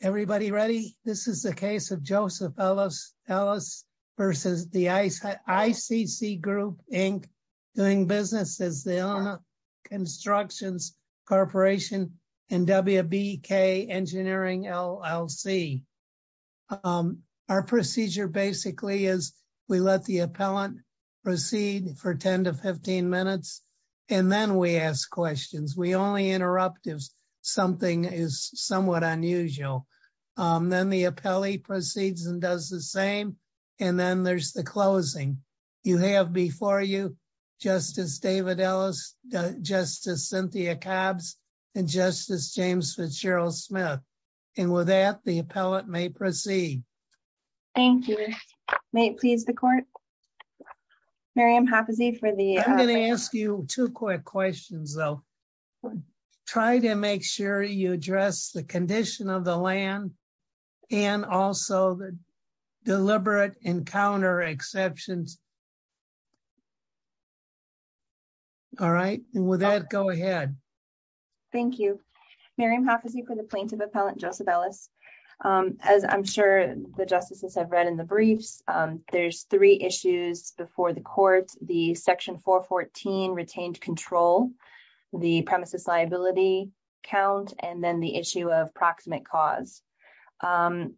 Everybody ready? This is the case of Joseph Ellis versus the ICC Group, Inc. doing business as the Eleanor Constructions Corporation and WBK Engineering LLC. Our procedure basically is we let the appellant proceed for 10 to 15 minutes and then we ask questions. We only interrupt if something is somewhat unusual. Then the appellee proceeds and does the same and then there's the closing. You have before you Justice David Ellis, Justice Cynthia Cobbs, and Justice James Fitzgerald Smith. And with that, the appellant may proceed. Thank you. May it please the court? I'm going to ask you two quick questions though. Try to make sure you address the condition of the land and also the deliberate encounter exceptions. All right. With that, go ahead. Thank you. Mariam Hafizi for the plaintiff appellant Joseph Ellis. As I'm sure the justices have read in the briefs, there's three issues before the court. The section 414 retained control, the premises liability count, and then the issue of proximate cause. In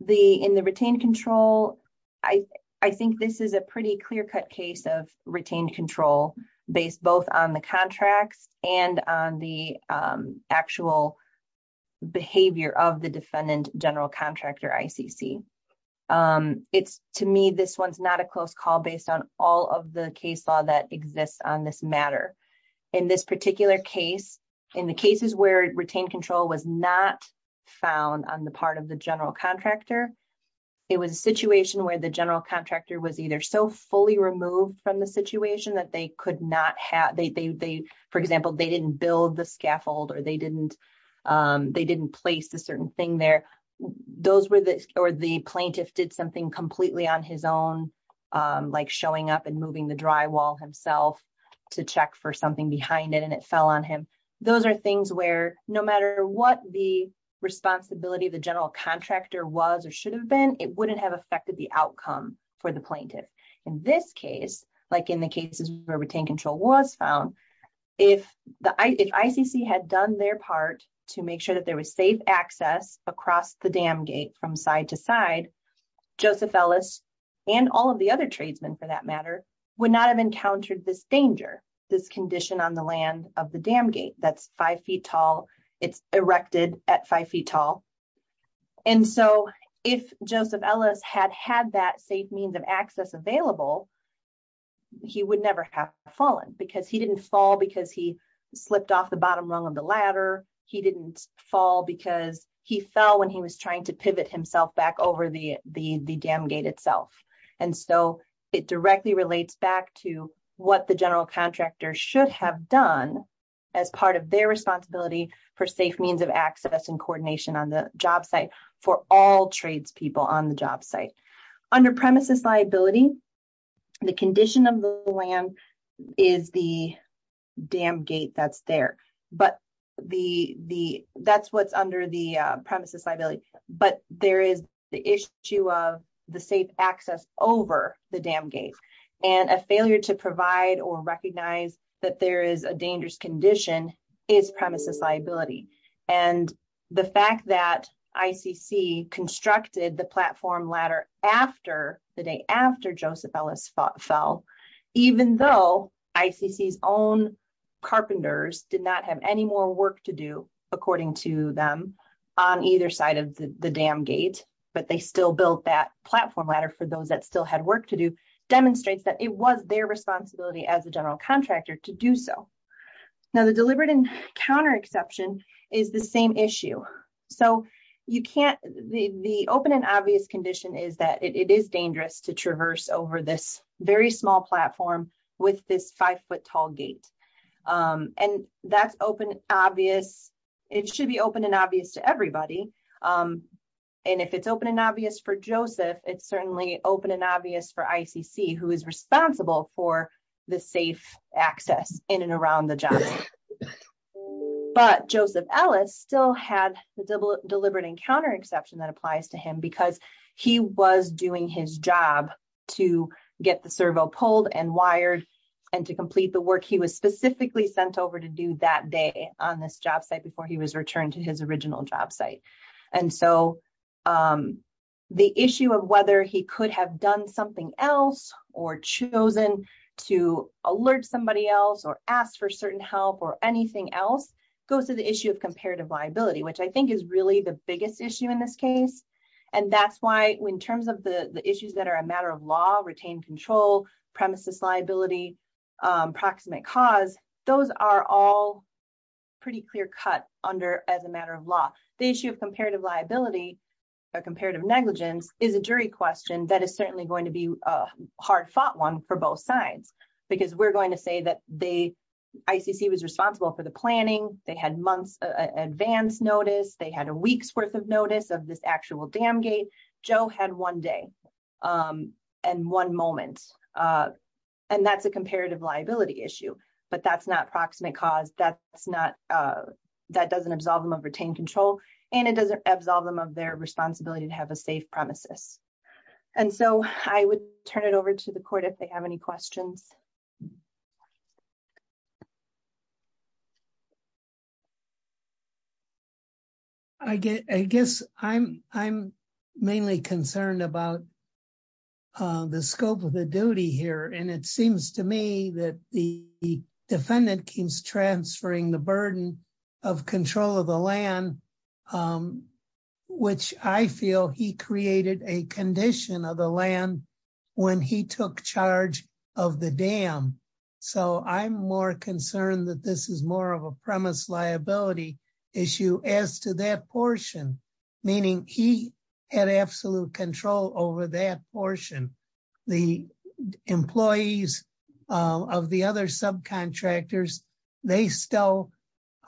the retained control, I think this is a pretty clear-cut case of retained control based both on the contracts and on the actual behavior of the defendant general contractor ICC. To me, this one's not a close call based on all of the case law that exists on this matter. In this particular case, in the cases where retained control was not found on the part of the general contractor, it was a situation where the general contractor was either so fully removed from the situation that they could not have... For example, they didn't build the scaffold or they didn't place a certain thing there. Those were the... Or the plaintiff did something completely on his own, like showing up and moving the drywall himself to check for something behind it and it fell on him. Those are things where no matter what the responsibility of the general contractor was or should have been, it wouldn't have affected the outcome for the plaintiff. In this case, like in the cases where retained control was found, if ICC had done their part to make sure that there was safe access across the dam gate from side to side, Joseph Ellis and all of the other tradesmen for that matter would not have encountered this danger, this condition on the land of the dam gate that's five feet tall, it's erected at five feet tall. And so if Joseph Ellis had had that safe means of access available, he would never have fallen because he didn't fall because he slipped off the bottom rung of the ladder. He didn't fall because he fell when he was trying to pivot himself back over the dam gate itself. And so it directly relates back to what the general contractor should have done as part of their responsibility for safe means of access and coordination on the job site for all trades people on the job site. Under premises liability, the condition of the land is the dam gate that's there, but that's what's under the premises liability. But there is the issue of the safe access over the dam gate and a failure to provide or recognize that there is a dangerous condition is premises liability. And the fact that ICC constructed the platform ladder after the day after Joseph Ellis fell, even though ICC's own carpenters did not have any more work to do, according to them, on either side of the dam gate, but they still built that platform ladder for those that still had work to do, demonstrates that it was their responsibility as a general contractor to do so. Now the deliberate and counter exception is the same issue. So you can't, the open and obvious condition is that it is dangerous to traverse over this very small platform with this five foot tall gate. And that's open, obvious, it should be open and obvious to everybody. And if it's open and obvious for Joseph, it's certainly open and obvious for ICC who is access in and around the job site. But Joseph Ellis still had the deliberate and counter exception that applies to him because he was doing his job to get the servo pulled and wired and to complete the work he was specifically sent over to do that day on this job site before he was returned to his original job site. And so the issue of whether he could have done something else or chosen to alert somebody else or ask for certain help or anything else goes to the issue of comparative liability, which I think is really the biggest issue in this case. And that's why in terms of the issues that are a matter of law, retained control, premises liability, proximate cause, those are all pretty clear cut under as a matter of law. The issue of comparative liability or comparative negligence is a jury question that is certainly going to be a hard fought one for both sides, because we're going to say that the ICC was responsible for the planning, they had months advance notice, they had a week's worth of notice of this actual dam gate, Joe had one day and one moment. And that's a comparative liability issue. But that's not proximate cause, that doesn't absolve them of retained control, and it doesn't of their responsibility to have a safe premises. And so I would turn it over to the court if they have any questions. I guess I'm mainly concerned about the scope of the duty here. And it seems to me that the defendant keeps transferring the burden of control of the land, which I feel he created a condition of the land when he took charge of the dam. So I'm more concerned that this is more of a premise liability issue as to that portion, meaning he had absolute control over that portion. The employees of the other subcontractors, they still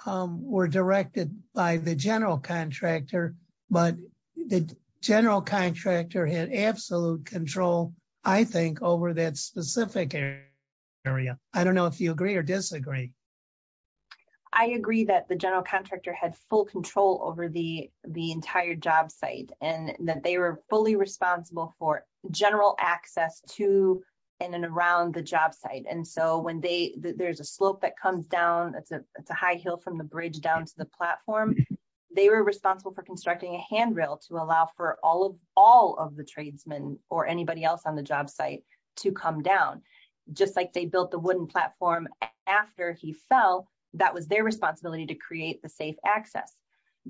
were directed by the general contractor. But the general contractor had absolute control, I think over that specific area. I don't know if you agree or disagree. I agree that the general contractor had full control over the entire job site and that they were fully responsible for general access to and around the job site. And so when there's a slope that comes down, it's a high hill from the bridge down to the platform, they were responsible for constructing a handrail to allow for all of the tradesmen or anybody else on the job site to come down. Just like they built the wooden platform after he fell, that was their responsibility to create the safe access.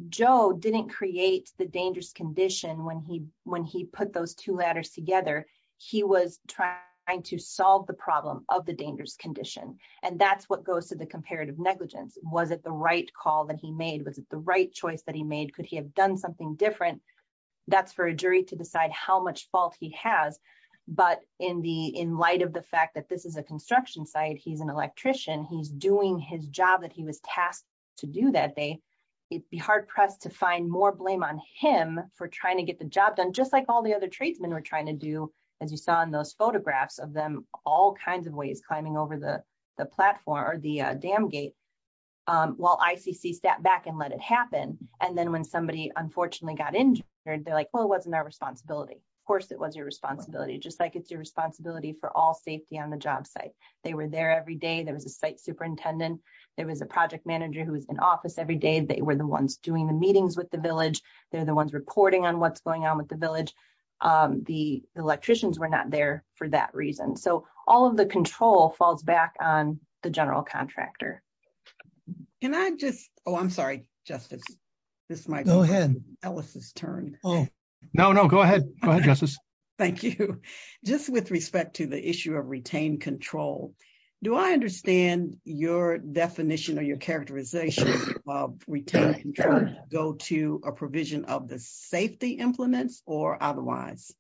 Joe didn't create the dangerous condition when he put those two ladders together. He was trying to solve the problem of the dangerous condition. And that's what goes to the comparative negligence. Was it the right call that he made? Was it the right choice that he made? Could he have done something different? That's for a jury to decide how much fault he has. But in light of the fact that this is a construction site, he's an electrician, he's doing his job that he was tasked to do that day. It'd be hard pressed to find more blame on him for trying to get the job done, just like all the other tradesmen were trying to do, as you saw in those photographs of them, all kinds of ways climbing over the platform or the dam gate while ICC stepped back and let it happen. And then when somebody unfortunately got injured, they're like, well, it wasn't our responsibility. Of course it was your responsibility, just like it's your responsibility for all safety on the job site. They were there every day. There was a site superintendent. There was a project manager who was in office every day. They were the ones doing the meetings with the village. They're the ones reporting on what's going on with the village. The electricians were not there for that reason. So all of the control falls back on the general contractor. Can I just, oh, I'm sorry, Justice. This is my turn. No, no, go ahead. Thank you. Just with respect to the issue of retained control, do I understand your definition or your characterization of retained control go to a provision of the safety implements or otherwise?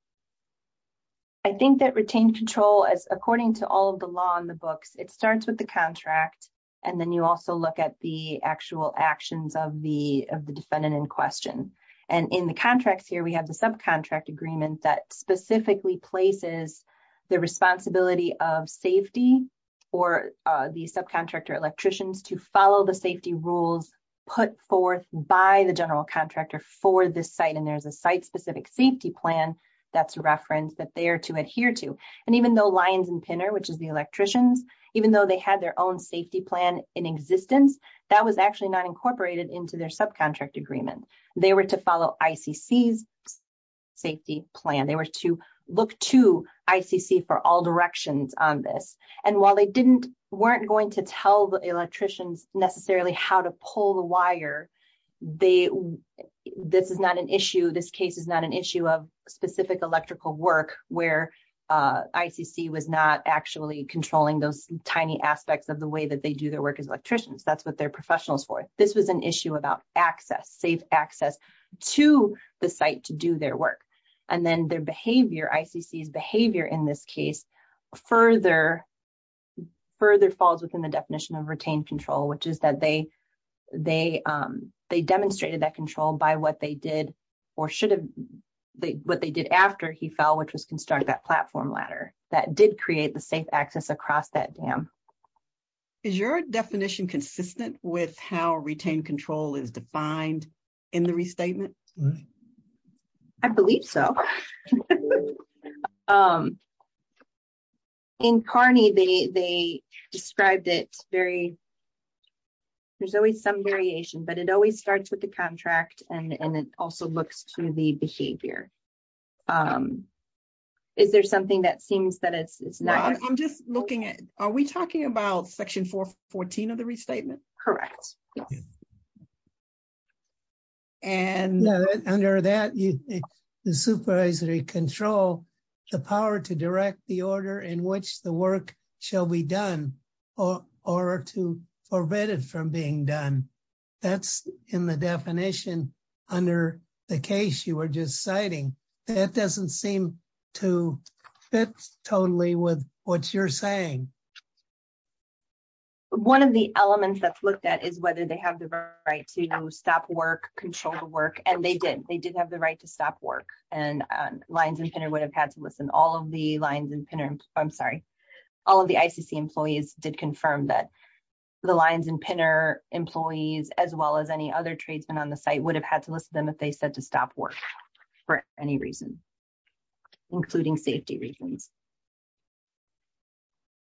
I think that retained control, as according to all of the law in the books, it starts with the contract. And then you also look at the actual actions of the defendant in question. And in contracts here, we have the subcontract agreement that specifically places the responsibility of safety or the subcontractor electricians to follow the safety rules put forth by the general contractor for this site. And there's a site-specific safety plan that's referenced that they're to adhere to. And even though Lyons and Pinner, which is the electricians, even though they had their own safety plan in existence, that was actually not incorporated into their subcontract agreement. They were to follow ICC's safety plan. They were to look to ICC for all directions on this. And while they weren't going to tell the electricians necessarily how to pull the wire, this is not an issue. This case is not an issue of specific electrical work where ICC was not actually controlling those tiny aspects of the way that they do their work as electricians. That's what they're professionals for. This was an issue about access, safe access to the site to do their work. And then their behavior, ICC's behavior in this case, further falls within the definition of retained control, which is that they demonstrated that control by what they did or should have, what they did after he fell, which was construct that with how retained control is defined in the restatement? I believe so. In Kearney, they described it very, there's always some variation, but it always starts with the contract and it also looks to the behavior. Is there something that seems that correct? And under that, the supervisory control, the power to direct the order in which the work shall be done or to forbid it from being done. That's in the definition under the case you were just citing. That doesn't seem to fit totally with what you're saying. One of the elements that's looked at is whether they have the right to stop work, control the work, and they did. They did have the right to stop work and Lines and Pinner would have had to listen. All of the Lines and Pinner, I'm sorry, all of the ICC employees did confirm that the Lines and Pinner employees, as well as any other tradesmen on the site would have had to listen to them if they said to stop work for any reason, including safety reasons.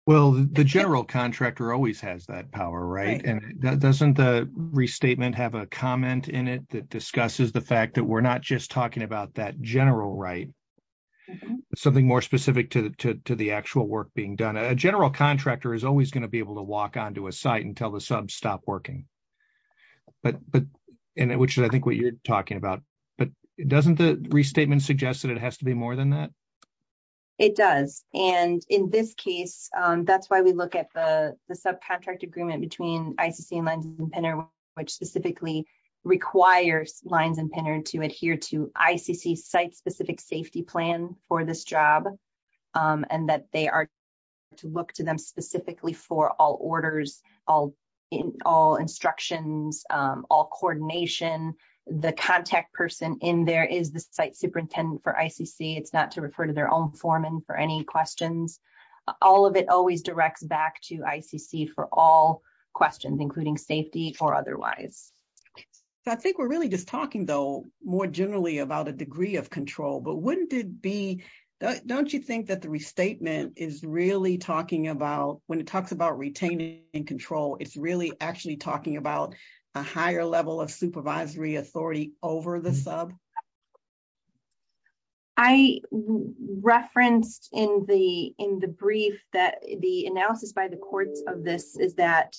Well, the general contractor always has that power, right? And doesn't the restatement have a comment in it that discusses the fact that we're not just talking about that general right? Something more specific to the actual work being done. A general contractor is always going to be able to walk onto a site and tell the sub stop working. But, and which is I think what you're talking about, but doesn't the restatement suggest that it has to be more than that? It does. And in this case, that's why we look at the subcontract agreement between ICC and Lines and Pinner, which specifically requires Lines and Pinner to adhere to ICC site specific safety plan for this job. And that they are to look to them specifically for all orders, all instructions, all coordination. The contact person in there is the site superintendent for ICC. It's not referred to their own foreman for any questions. All of it always directs back to ICC for all questions, including safety or otherwise. I think we're really just talking though, more generally about a degree of control, but wouldn't it be, don't you think that the restatement is really talking about when it talks about retaining control, it's really actually talking about a higher level of supervisory authority over the sub? I referenced in the, in the brief that the analysis by the courts of this is that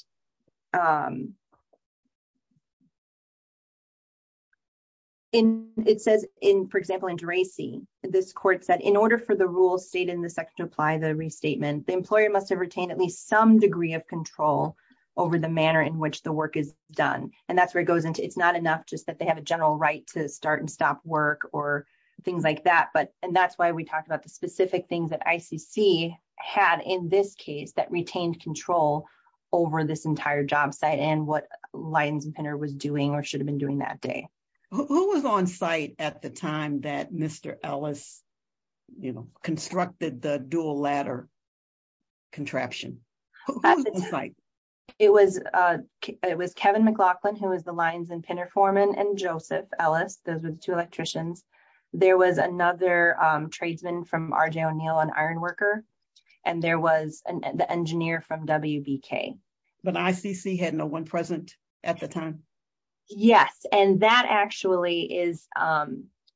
in, it says in, for example, in DRACY, this court said in order for the rules state in the section to apply the restatement, the employer must have retained at least some degree of control over the manner in which the work is done. And that's where it goes into, it's not enough just they have a general right to start and stop work or things like that. But, and that's why we talked about the specific things that ICC had in this case that retained control over this entire job site and what Lines and Pinner was doing or should have been doing that day. Who was on site at the time that Mr. Ellis, you know, constructed the dual ladder contraption? It was, it was Kevin McLaughlin, who was the Lines and Pinner foreman and Joseph Ellis, those were the two electricians. There was another tradesman from RJ O'Neill, an iron worker, and there was the engineer from WBK. But ICC had no one present at the time? Yes, and that actually is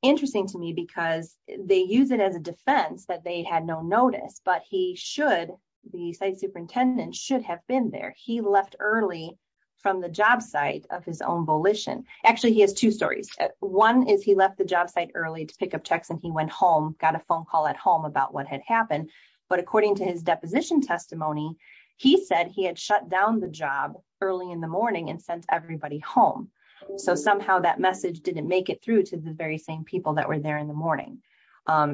interesting to me because they use it as a defense that they had no notice, but he should, the site superintendent should have been there. He left early from the job site of his own volition. Actually, he has two stories. One is he left the job site early to pick up checks and he went home, got a phone call at home about what had happened. But according to his deposition testimony, he said he had shut down the job early in the morning and sent everybody home. So somehow that message didn't make it through to the very same people that were there in the morning.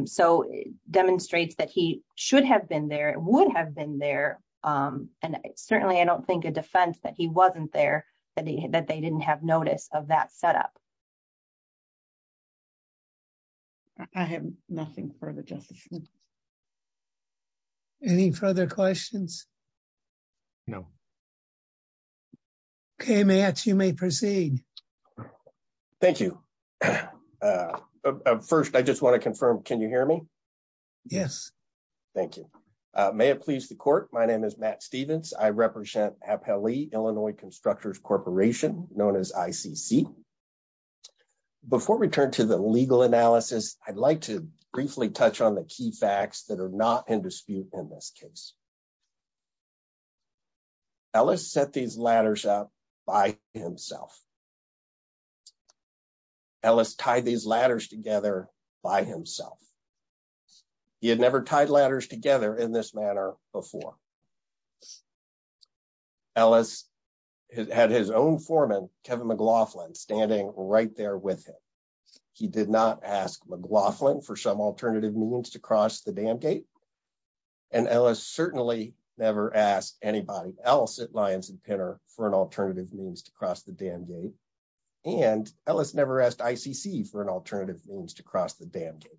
So it demonstrates that he should have been there, would have been there, and certainly I don't think a defense that he wasn't there, that they didn't have notice of that setup. I have nothing further. Any further questions? No. Okay, Matt, you may proceed. Thank you. First, I just want to confirm, can you hear me? Yes. Thank you. May it please the court, my name is Matt Stephens. I represent Apelli Illinois Constructors Corporation, known as ICC. Before we turn to the legal analysis, I'd like to briefly touch on the key facts that are not in dispute in this case. Ellis set these ladders up by himself. Ellis tied these ladders together by himself. He had never tied ladders together in this manner before. Ellis had his own foreman, Kevin McLaughlin, standing right there with him. He did not ask McLaughlin for some alternative means to cross the dam gate, and Ellis certainly never asked anybody else at Lyons and Pinner for an alternative means to cross the dam gate, and Ellis never asked ICC for an alternative means to cross the dam gate.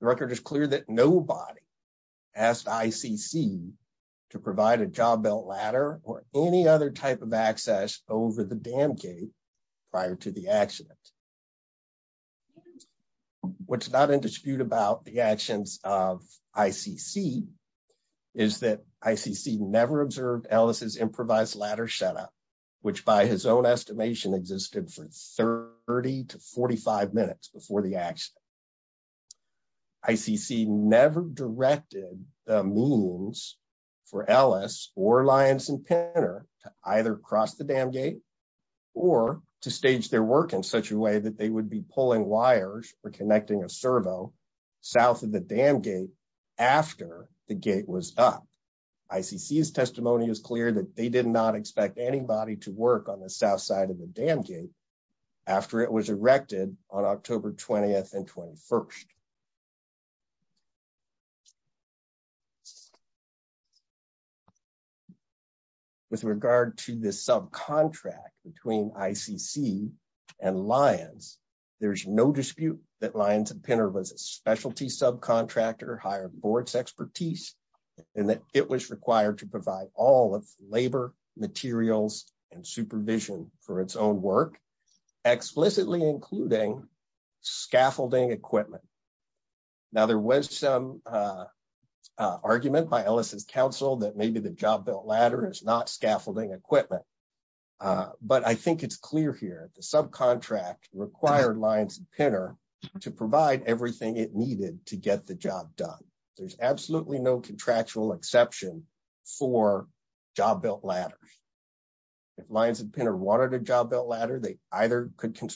The record is clear that nobody asked ICC to provide a job belt ladder or any other type of ladder. What's not in dispute about the actions of ICC is that ICC never observed Ellis's improvised ladder setup, which by his own estimation existed for 30 to 45 minutes before the action. ICC never directed the means for Ellis or Lyons and Pinner to either cross the dam gate or to stage their work in such a way that they would be pulling wires or connecting a servo south of the dam gate after the gate was up. ICC's testimony is clear that they did not expect anybody to work on the south side of the dam gate after it was erected on October 20th and 21st. With regard to the subcontract between ICC and Lyons, there's no dispute that Lyons and Pinner was a specialty subcontractor, higher boards expertise, and that it was required to provide all of labor materials and supervision for its own work, explicitly including scaffolding equipment. There was some argument by Ellis's counsel that maybe the job belt ladder is not scaffolding equipment, but I think it's clear here the subcontract required Lyons and Pinner to provide everything it needed to get the job done. There's absolutely no contractual exception for job built ladders. If Lyons and Pinner wanted a job built ladder, they either could or didn't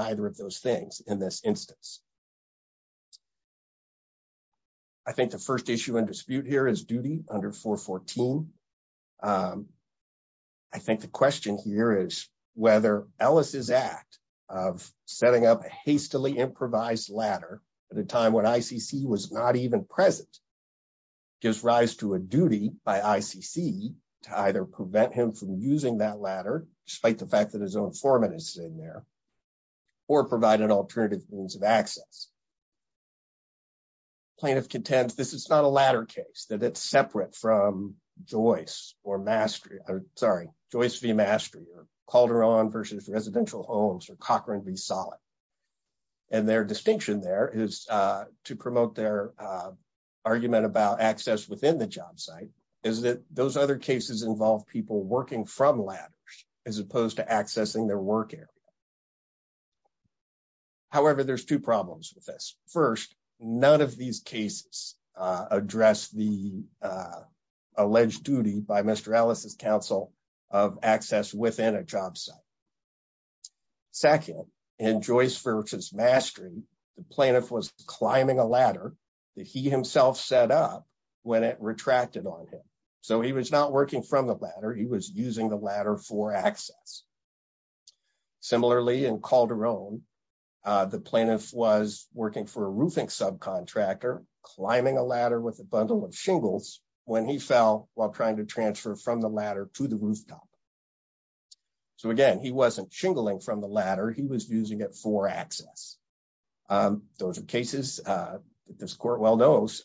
either of those things in this instance. I think the first issue and dispute here is duty under 414. I think the question here is whether Ellis's act of setting up a hastily improvised ladder at a time when ICC was not even present gives rise to a duty by ICC to either prevent him from using that ladder, despite the fact that his own foreman is in there, or provide an alternative means of access. Plaintiff contends this is not a ladder case, that it's separate from Joyce or Mastery, sorry, Joyce v. Mastery or Calderon v. Residential Homes or Cochran v. Solid. And their distinction there is to promote their argument about access within the job site is that those other cases involve people working from ladders as opposed to accessing their work area. However, there's two problems with this. First, none of these cases address the alleged duty by Mr. Ellis's counsel of access within a job site. Second, in Joyce v. Mastery, the plaintiff was climbing a ladder that he himself set up when it retracted on him. So he was not working from the ladder, he was using the ladder for access. Similarly, in Calderon, the plaintiff was working for a roofing subcontractor, climbing a ladder with a bundle of shingles when he fell while trying to transfer from the ladder to the rooftop. So again, he wasn't shingling from the ladder, he was using it for access. Those are cases that this court well knows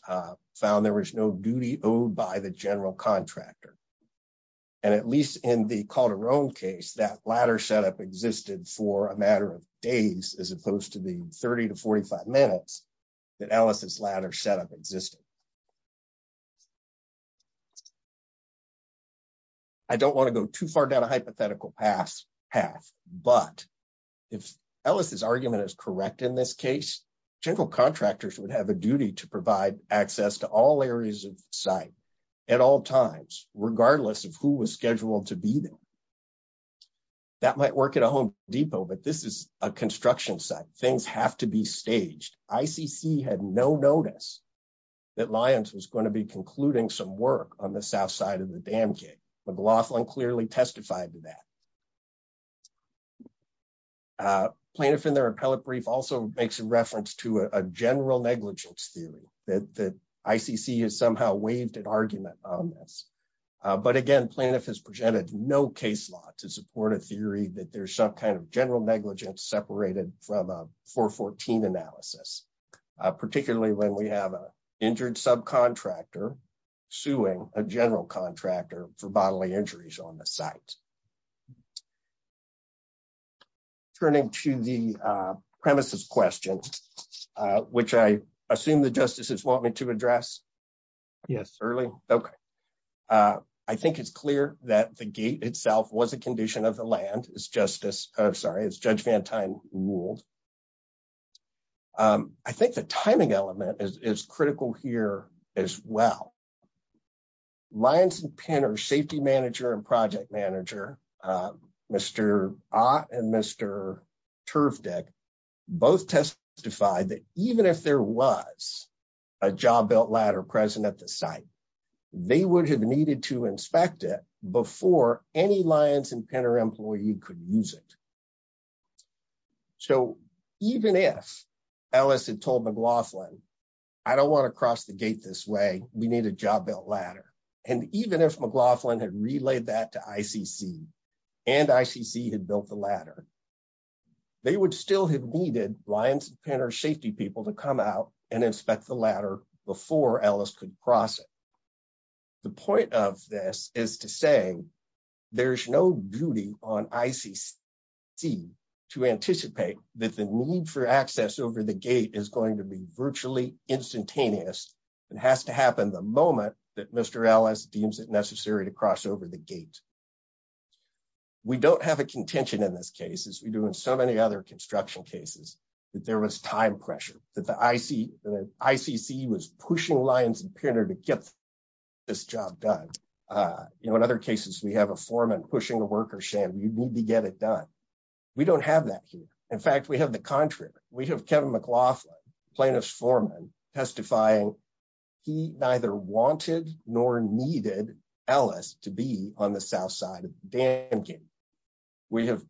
found there was no duty owed by the general contractor. And at least in the Calderon case, that ladder setup existed for a matter of days as opposed to the 30 to 45 minutes that Ellis's ladder setup existed. I don't want to go too far down a case. General contractors would have a duty to provide access to all areas of site at all times, regardless of who was scheduled to be there. That might work at a Home Depot, but this is a construction site, things have to be staged. ICC had no notice that Lyons was going to be concluding some work on the south side of the dam gate. McLaughlin clearly testified to that. A plaintiff in their appellate brief also makes a reference to a general negligence theory that ICC has somehow waived an argument on this. But again, plaintiff has presented no case law to support a theory that there's some kind of general negligence separated from a 414 analysis, particularly when we have an injured subcontractor suing a general contractor for bodily injuries on the site. Turning to the premises question, which I assume the justices want me to address yes early. Okay, I think it's clear that the gate itself was a condition of the land, as Judge Van Tine ruled. I think the timing element is critical here as well. Lyons and Penner safety manager and project manager, Mr. Ott and Mr. Turfdick, both testified that even if there was a job belt ladder present at the site, they would have needed to inspect it before any Lyons and Penner employee could use it. So even if Ellis had told McLaughlin, I don't want to cross the gate this way, we need a job belt ladder. And even if McLaughlin had relayed that to ICC, and ICC had built the ladder, they would still have needed Lyons and Penner safety people to come out and inspect the ladder before Ellis could cross it. The point of this is to say, there's no duty on ICC to anticipate that the need for access over the gate is going to be the moment that Mr. Ellis deems it necessary to cross over the gate. We don't have a contention in this case, as we do in so many other construction cases, that there was time pressure, that the ICC was pushing Lyons and Penner to get this job done. In other cases, we have a foreman pushing a worker, saying you need to get it done. We don't have that here. In fact, we have the contrary. We have Kevin McLaughlin, plaintiff's foreman, testifying he neither wanted nor needed Ellis to be on the south side of the dam gate. We have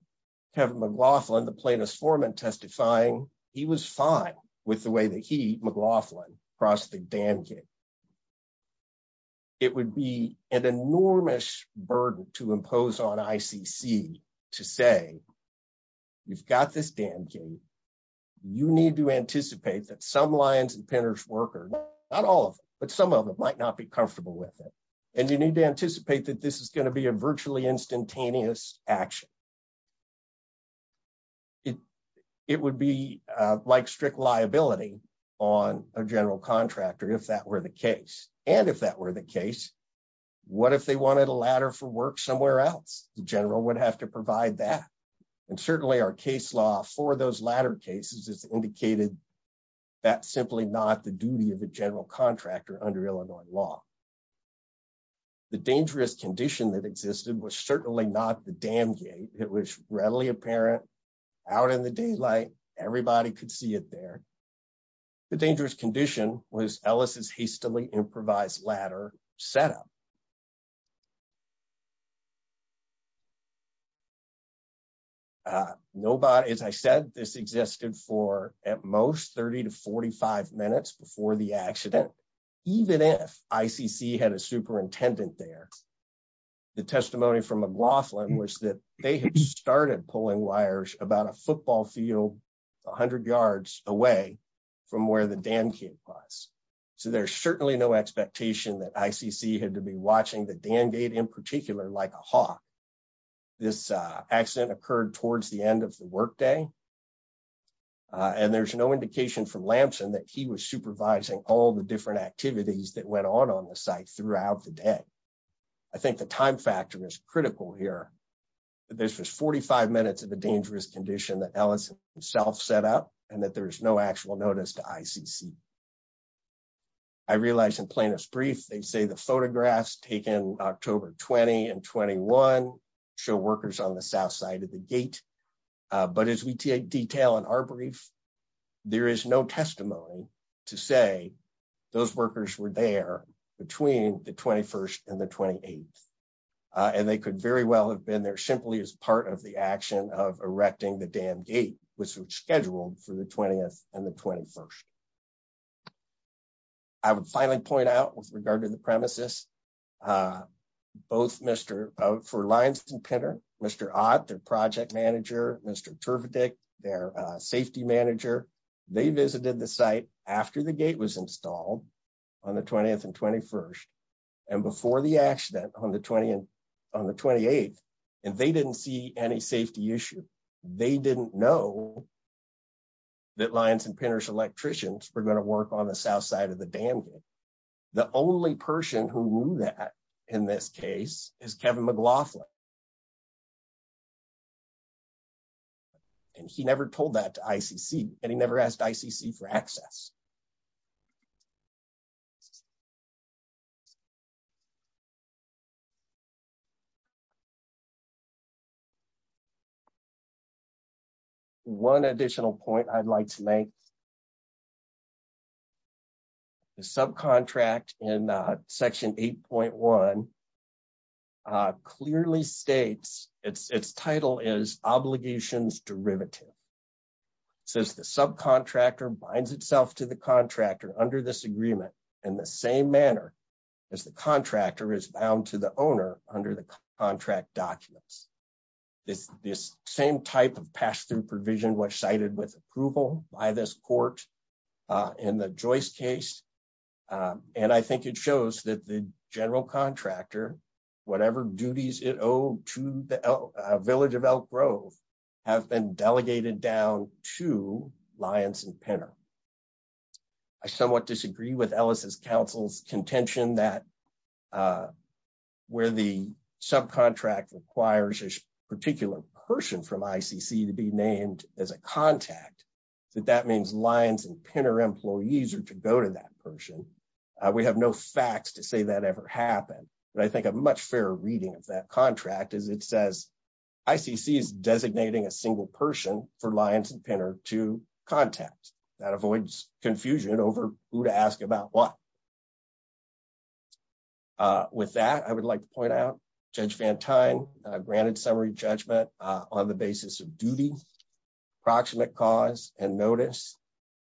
Kevin McLaughlin, the plaintiff's foreman, testifying he was fine with the way that he, McLaughlin, crossed the dam gate. It would be an enormous burden to impose on ICC to say, you've got this dam gate. You need to anticipate that some Lyons and Penner's workers, not all of them, but some of them might not be comfortable with it. And you need to anticipate that this is going to be a virtually instantaneous action. It would be like strict liability on a general contractor, if that were the case. And if that were the case, what if they wanted a ladder for work somewhere else? The general would have to provide that. And certainly our case law for those ladder cases has indicated that's simply not the duty of a general contractor under Illinois law. The dangerous condition that existed was certainly not the dam gate. It was readily apparent out in the daylight. Everybody could see it there. The dangerous condition was Ellis's hastily constructed. As I said, this existed for at most 30 to 45 minutes before the accident. Even if ICC had a superintendent there, the testimony from McLaughlin was that they had started pulling wires about a football field 100 yards away from where the dam gate was. So there's certainly no expectation that ICC had to be watching the dam gate in particular like a this accident occurred towards the end of the workday. And there's no indication from Lampson that he was supervising all the different activities that went on on the site throughout the day. I think the time factor is critical here. This was 45 minutes of a dangerous condition that Ellis himself set up, and that there is no actual notice to ICC. I realize in plaintiff's brief, they say the show workers on the south side of the gate. But as we detail in our brief, there is no testimony to say those workers were there between the 21st and the 28th. And they could very well have been there simply as part of the action of erecting the dam gate, which was scheduled for the 20th and the 21st. I would finally point out with regard to the premises, for Lyons and Pinter, Mr. Ott, their project manager, Mr. Turvedik, their safety manager, they visited the site after the gate was installed on the 20th and 21st, and before the accident on the 28th, and they didn't see any safety issue. They didn't know that Lyons and Pinter's in this case is Kevin McLaughlin. And he never told that to ICC, and he never asked ICC for access. One additional point I'd like to make, the subcontract in section 8.1 clearly states, its title is obligations derivative. It says the subcontractor binds itself to the contractor under this agreement in the same manner as the contractor is bound to the owner under the contract documents. This same type of pass-through provision was cited with approval by this court in the Joyce case, and I think it shows that the general contractor, whatever duties it owed to the village of Elk Grove, have been delegated down to Lyons and Pinter. I somewhat disagree with Ellis' counsel's contention that where the subcontract requires a particular person from ICC to be named as a contact, that that means Lyons and Pinter employees are to go to that person. We have no facts to say that ever happened, but I think a much fairer reading of that contract is it says ICC is designating a single person for Lyons and Pinter to contact. That avoids confusion over who to ask about what. With that, I would like to point out Judge Van Tine granted summary judgment on the basis of duty, approximate cause, and notice,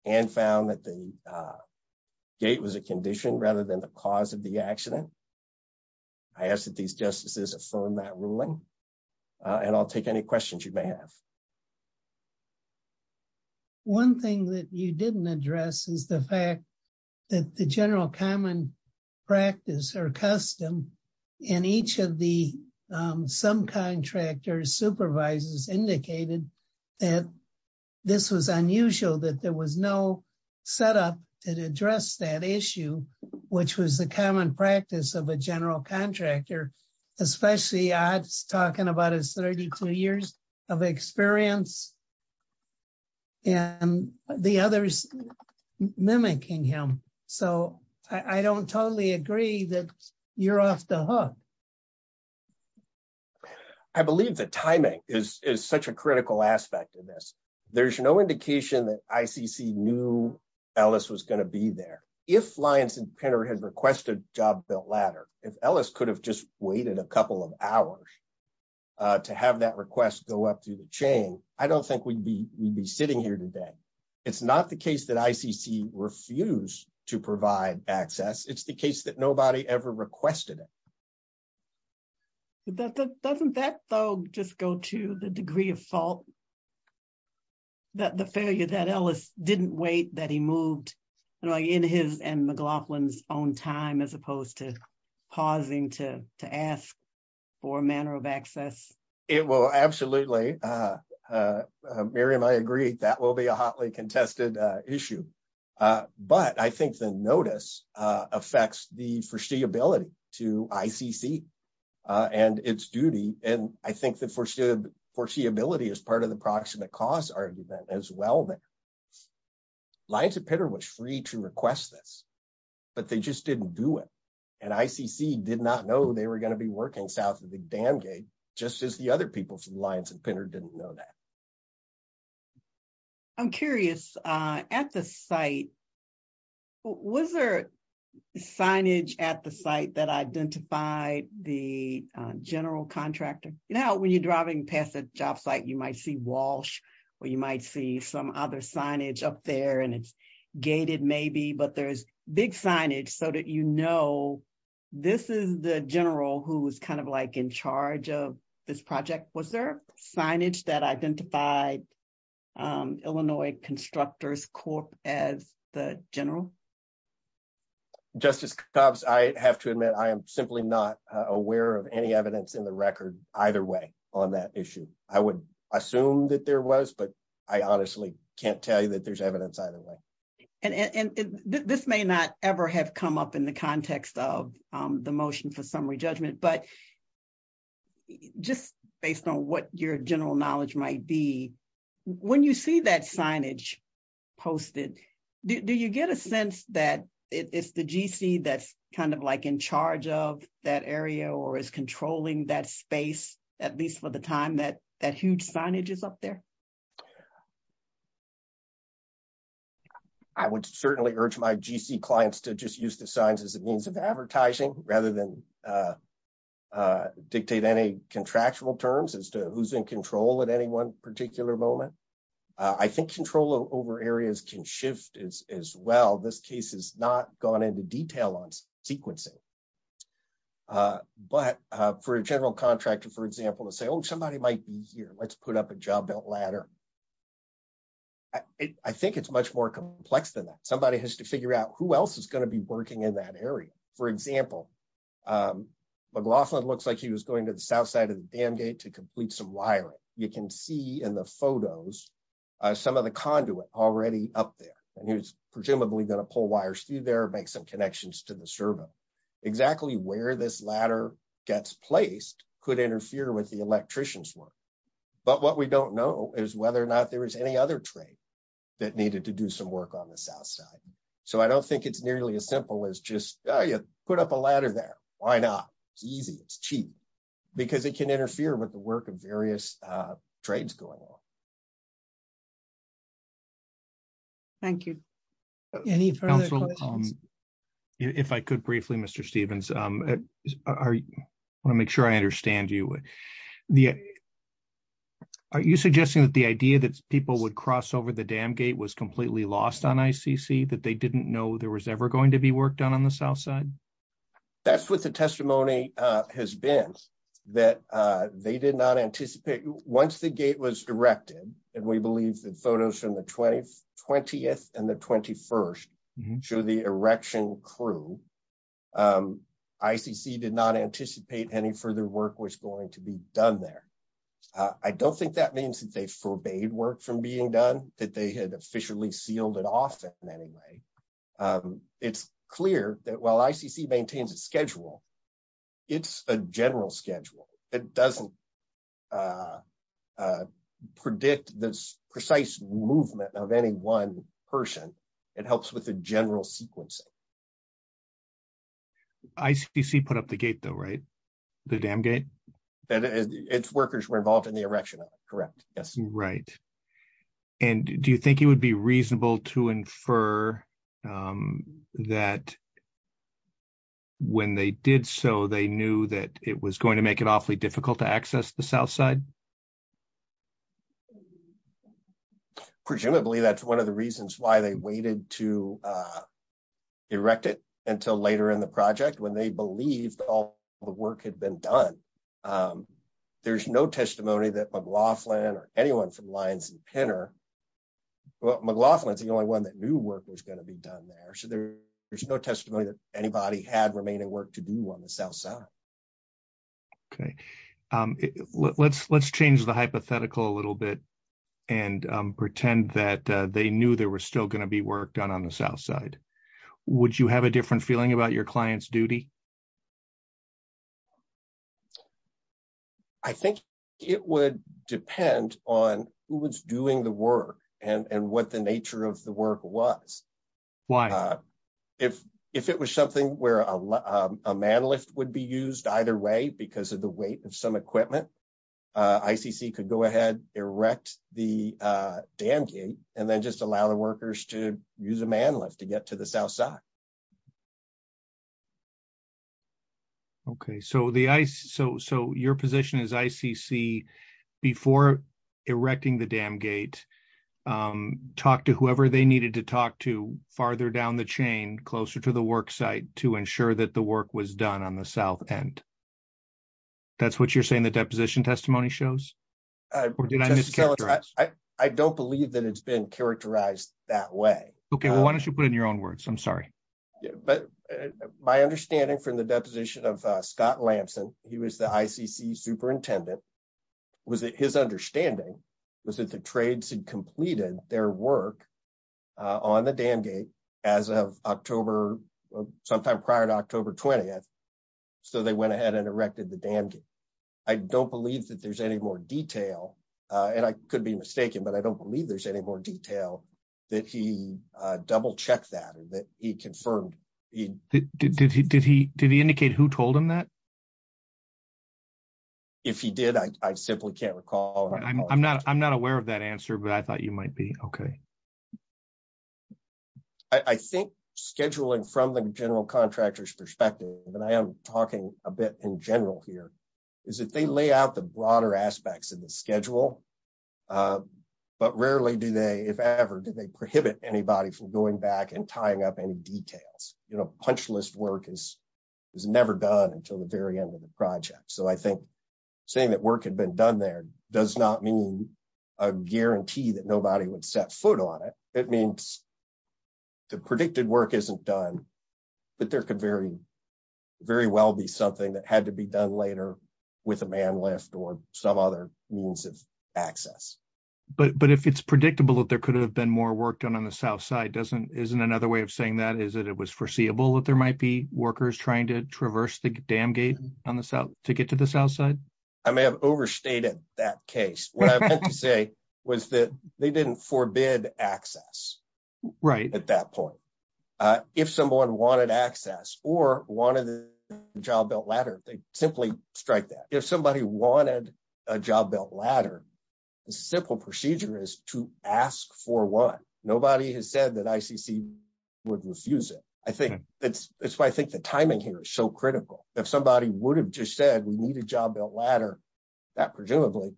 and found that the gate was a condition rather than the cause of the accident. I ask that these justices affirm that ruling, and I'll take any questions you may have. One thing that you didn't address is the fact that the general common practice or custom in each of the subcontractor supervisors indicated that this was unusual that there was no setup that addressed that issue, which was the common practice of a general contractor, especially I was talking about his 32 years of experience and the others mimicking him, so I don't totally agree that you're off the hook. I believe that timing is such a critical aspect of this. There's no indication that ICC knew Ellis was going to be there. If Lyons and Pinter had requested a job built ladder, if Ellis could have just waited a couple of hours to have that request go up through the chain, I don't think we'd be sitting here today. It's not the case that ICC refused to provide access. It's the case that nobody ever requested it. Doesn't that, though, just go to the degree of fault, that the failure that Ellis didn't wait that he moved in his and McLaughlin's own time as opposed to pausing to ask for a manner of access? Absolutely. Miriam, I agree that will be a hotly contested issue, but I think the notice affects the foreseeability to ICC and its duty, and I think the foreseeability is part of the proximate cause argument as well. Lyons and Pinter was free to request this, but they just didn't do it, and ICC did not know they were going to be working south of the dam gate, just as the other people from Lyons and Pinter didn't know that. I'm curious, at the site, was there signage at the site that identified the general contractor? Now, when you're driving past the job site, you might see Walsh, or you might see some other signage up there, and it's gated maybe, but there's big signage so that you know this is the general who's kind of like in charge of this project. Was there signage that identified Illinois Constructors Corp as the general? Justice Cobbs, I have to admit I am simply not aware of any evidence in the record either way on that issue. I would assume that there was, but I honestly can't tell you that there's evidence either way. And this may not ever have come up in the context of the motion for summary judgment, but just based on what your general knowledge might be, when you see that signage posted, do you get a sense that it's the GC that's kind of like in charge of that area or is controlling that space, at least for the time that that huge signage is up there? I would certainly urge my GC clients to just use the signs as a means of advertising rather than dictate any contractual terms as to who's in control at any one particular moment. I think control over areas can shift as well. This case has not gone into detail on sequencing, but for a general contractor, for example, to say, oh, somebody might be here, let's put up a job belt ladder. I think it's much more complex than that. Somebody has to figure out who else is going to be working in that area. For example, McLaughlin looks like he was going to the south side of the dam gate to complete some wiring. You can see in the photos some of the conduit already up there and he was presumably going to pull wires through there, make some connections to the servo. Exactly where this ladder gets placed could interfere with the electrician's work. But what we don't know is whether or not there is any other trade that needed to do some work on the south side. So I don't think it's nearly as simple as just, oh, you put up a ladder there. Why not? It's easy. It's cheap. Because it can interfere with the work of various trades going on. Thank you. Any further questions? If I could briefly, Mr. Stevens, I want to make sure I understand you. Are you suggesting that the idea that people would cross over the dam gate was completely lost on ICC, that they didn't know there was ever going to be work done on the south side? That's what the testimony has been. Once the gate was erected, and we believe the photos from the 20th and the 21st show the erection crew, ICC did not anticipate any further work was going to be done there. I don't think that means that they forbade work from being done, that they had sealed it off in any way. It's clear that while ICC maintains a schedule, it's a general schedule. It doesn't predict the precise movement of any one person. It helps with the general sequencing. ICC put up the gate, though, right? The dam gate? Its workers were involved in the erection, correct? Yes. Right. Do you think it would be reasonable to infer that when they did so, they knew that it was going to make it awfully difficult to access the south side? Presumably, that's one of the reasons why they waited to erect it until later in the project, when they believed all the work had been done. There's no testimony that McLaughlin or anyone from Lyons and Pinner, well, McLaughlin's the only one that knew work was going to be done there. There's no testimony that anybody had remaining work to do on the south side. Okay. Let's change the hypothetical a little bit and pretend that they knew there was still going to be work done on the south side. Would you have a different feeling about your client's duty? I think it would depend on who was doing the work and what the nature of the work was. Why? If it was something where a man lift would be used either way because of the weight of some equipment, ICC could go ahead, erect the dam gate, and then just allow the workers to use a man lift to get to the south side. Okay. So, your position is ICC, before erecting the dam gate, talk to whoever they needed to talk to farther down the chain, closer to the work site to ensure that the work was done on the south end. That's what you're saying the deposition testimony shows? I don't believe that it's been characterized that way. Okay. Why don't you put in your own words? I'm sorry. My understanding from the deposition of Scott Lamson, he was the ICC superintendent, was that his understanding was that the trades had completed their work on the dam gate as of October, sometime prior to October 20th. So, they went ahead and erected the dam gate. I don't believe that there's any more detail, and I could be mistaken, but I don't believe there's any more detail that he double-checked that and that he confirmed. Did he indicate who told him that? If he did, I simply can't recall. I'm not aware of that answer, but I thought you might be. Okay. I think scheduling from the general contractor's perspective, and I am talking a bit in general here, is that they lay out the broader aspects of the schedule, but rarely, if ever, do they prohibit anybody from going back and tying up any details. Punch list work is never done until the very end of the project. So, I think saying that work had been done there does not mean a guarantee that nobody would set foot on it. It means the predicted work isn't done, but there could very well be something that had to be done later with a man lift or some other means of access. But if it's predictable that there could have been more work done on the south side, isn't another way of saying that is that it was foreseeable that there might be workers trying to traverse the dam gate to get to the south side? I may have overstated that case. What I meant to say was that they didn't forbid access at that point. If someone wanted access or wanted a job belt ladder, they simply strike that. If somebody wanted a job belt ladder, the simple procedure is to ask for one. Nobody has said that ICC would refuse it. I think that's why I think the timing here is so critical. If somebody would have just said we need a job belt ladder, that presumably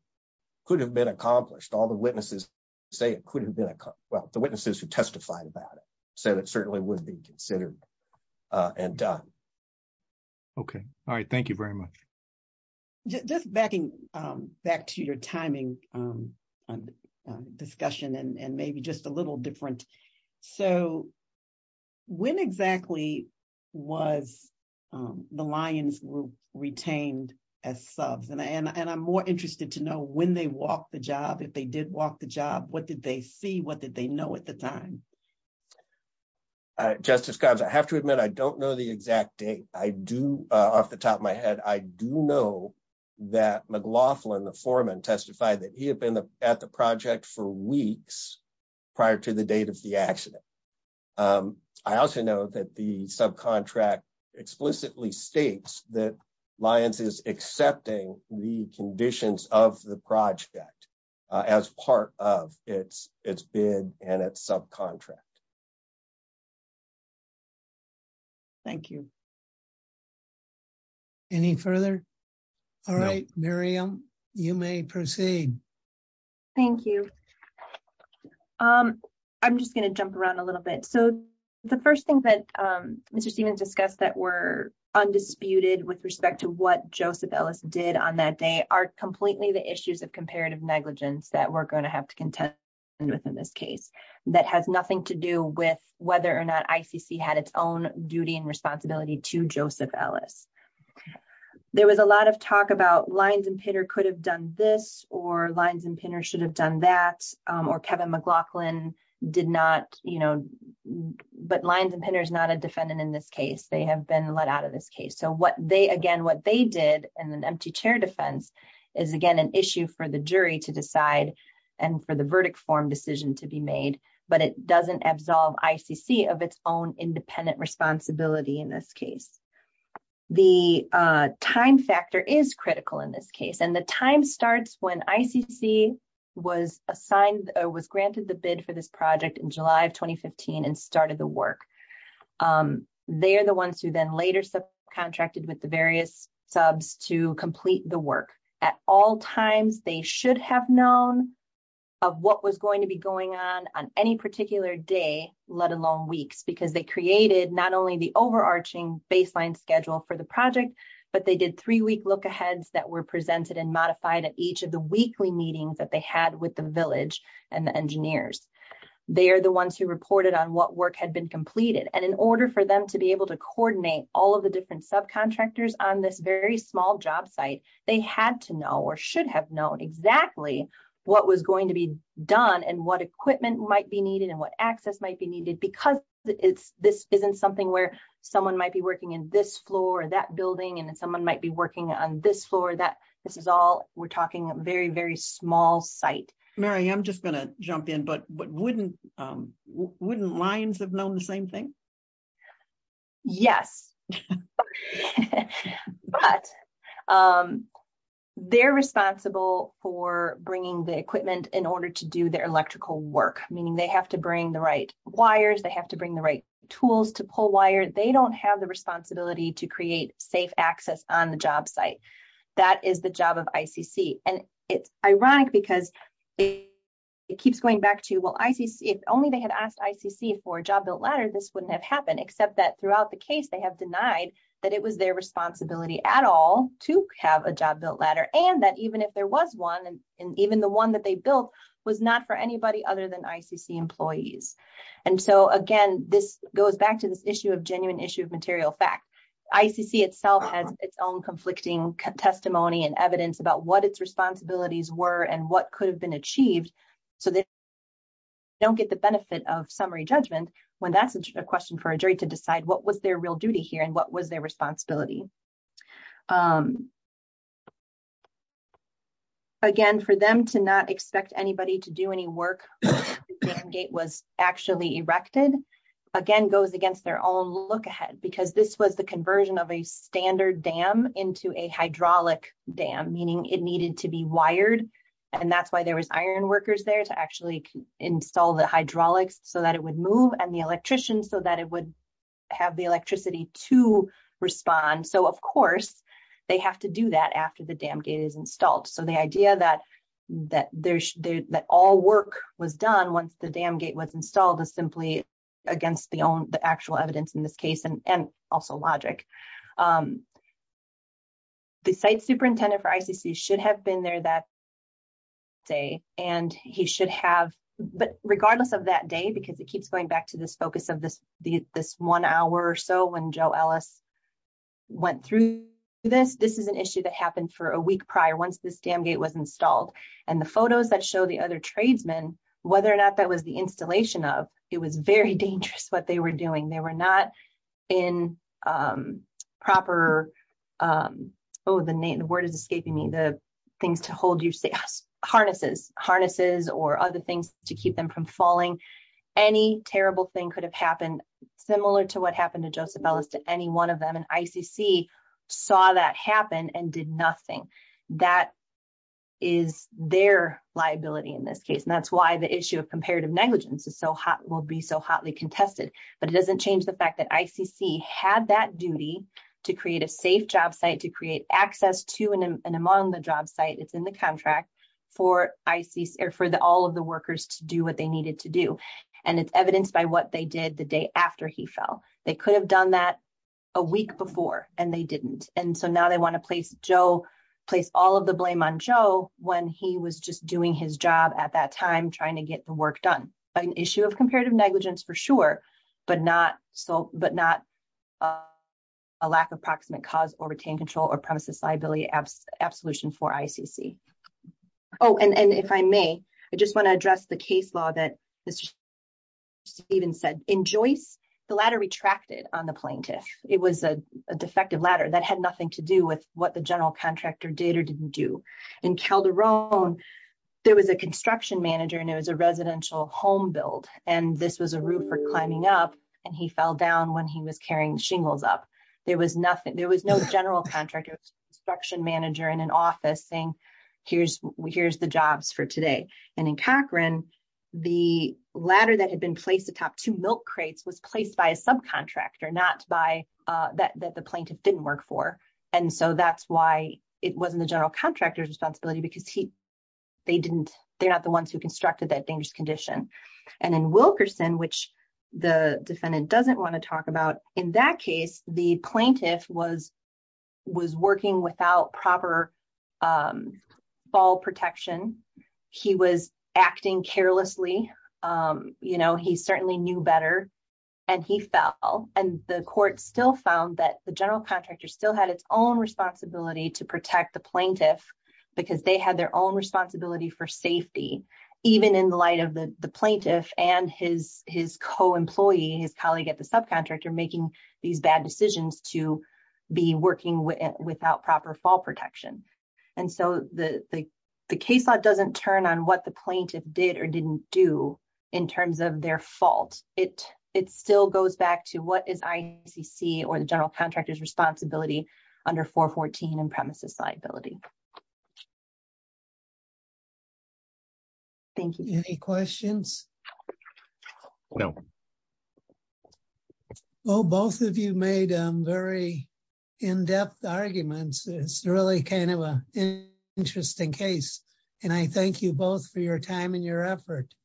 could have been accomplished. All the witnesses who testified about it said it certainly would be considered and done. Okay. All right. Thank you very much. Just backing back to your timing discussion and maybe just a little different. When exactly was the Lions retained as subs? I'm more interested to know when they walked the job, if they did walk the job, what did they see, did they know at the time? Justice Cobbs, I have to admit I don't know the exact date. Off the top of my head, I do know that McLaughlin, the foreman, testified that he had been at the project for weeks prior to the date of the accident. I also know that the subcontract explicitly states that Lions is accepting the conditions of the project as part of its bid and its subcontract. Thank you. Any further? All right. Miriam, you may proceed. Thank you. I'm just going to jump around a little bit. The first thing that Mr. Stevens discussed that were undisputed with respect to what Joseph Ellis did on that day are completely the issues of comparative negligence that we're going to have to contend with in this case that has nothing to do with whether or not ICC had its own duty and responsibility to Joseph Ellis. There was a lot of talk about Lions and Pinter could have done this or Lions and Pinter should have done that, or Kevin McLaughlin did not. But Lions and Pinter is not a defendant in this case. They have been let out of this case. Again, what they did in an empty chair defense is again an issue for the jury to decide and for the verdict form decision to be made, but it doesn't absolve ICC of its own independent responsibility in this case. The time factor is critical in this case, and the time starts when ICC was granted the bid for this project in July of 2015 and started the work. They are the ones who then later subcontracted with the various subs to complete the work. At all times, they should have known of what was going to be going on on any particular day, let alone weeks, because they created not only the overarching baseline schedule for the project, but they did three-week lookaheads that were presented and modified at each of the weekly meetings that they had with the village and the engineers. They are the ones who reported on what work had been completed, and in order for them to be able to coordinate all of the different subcontractors on this very small job site, they had to know or should have known exactly what was going to be done and what equipment might be needed and what access might be needed, because this isn't something where someone might be working in this floor, that building, and someone might be working on this floor. This is all, we're talking a very, very small site. Mary, I'm just going to jump in, but wouldn't Lions have known the same thing? Yes, but they're responsible for bringing the equipment in order to do their electrical work, meaning they have to bring the right wires, they have to bring the right tools to pull wire. They don't have the responsibility to create safe access on the job site. That is the job of ICC, and it's ironic because it keeps going back to, well, if only they had asked ICC for a job built ladder, this wouldn't have happened, except that throughout the case, they have denied that it was their responsibility at all to have a job built ladder, and that even if there was one, and even the one that they built was not for anybody other than ICC employees. Again, this goes back to this issue of genuine issue of material fact. ICC itself has its own conflicting testimony and evidence about what its responsibilities were and what could have been a question for a jury to decide what was their real duty here and what was their responsibility. Again, for them to not expect anybody to do any work when the dam gate was actually erected, again, goes against their own look ahead, because this was the conversion of a standard dam into a hydraulic dam, meaning it needed to be wired, and that's why there was iron workers there to actually install the hydraulics so that it would move, and the electricians so that it would have the electricity to respond. So, of course, they have to do that after the dam gate is installed. So, the idea that all work was done once the dam gate was installed is simply against the actual evidence in this case and also logic. The site superintendent for ICC should have been there that day, but regardless of that day, because it keeps going back to this focus of this one hour or so when Joe Ellis went through this, this is an issue that happened for a week prior once this dam gate was installed, and the photos that show the other tradesmen, whether or not that was the installation of, it was very dangerous what they were doing. They were not in proper, oh, the word is escaping me, the things to hold your harnesses or other things to keep them from falling. Any terrible thing could have happened similar to what happened to Joseph Ellis to any one of them, and ICC saw that happen and did nothing. That is their liability in this case, and that's why the issue of comparative negligence will be so hotly debated. ICC had that duty to create a safe job site, to create access to and among the job site. It's in the contract for all of the workers to do what they needed to do, and it's evidenced by what they did the day after he fell. They could have done that a week before, and they didn't, and so now they want to place all of the blame on Joe when he was just doing his job at that time trying to get the work done. An issue of comparative negligence for sure, but not so a lack of proximate cause or retained control or premises liability absolution for ICC. Oh, and if I may, I just want to address the case law that Stephen said. In Joyce, the ladder retracted on the plaintiff. It was a defective ladder that had nothing to do with what the general contractor did or didn't do. In Calderon, there was a construction manager, and it was a residential home build, and this was a roof for climbing up, and he fell down when he was carrying shingles up. There was no general contractor. It was a construction manager in an office saying, here's the jobs for today, and in Cochran, the ladder that had been placed atop two milk crates was placed by a subcontractor, not by that the plaintiff didn't work for, and so that's why it wasn't the general contractor's responsibility because they're not the ones who constructed that dangerous condition, and in Wilkerson, which the defendant doesn't want to talk about, in that case, the plaintiff was working without proper fall protection. He was acting carelessly. He certainly knew better, and he fell, and the court still found that the general contractor still had its own responsibility to protect the plaintiff because they had their own responsibility for safety, even in the light of the plaintiff and his co-employee, his colleague at the subcontractor, making these bad decisions to be working without proper fall protection, and so the case law doesn't turn on what the plaintiff did or didn't do in terms of their fault. It still goes back to what is IDCC or the general contractor's responsibility under 414 and premises liability. Thank you. Any questions? No. Well, both of you made very in-depth arguments. It's really kind of an interesting case, and I thank you both for your time and your effort.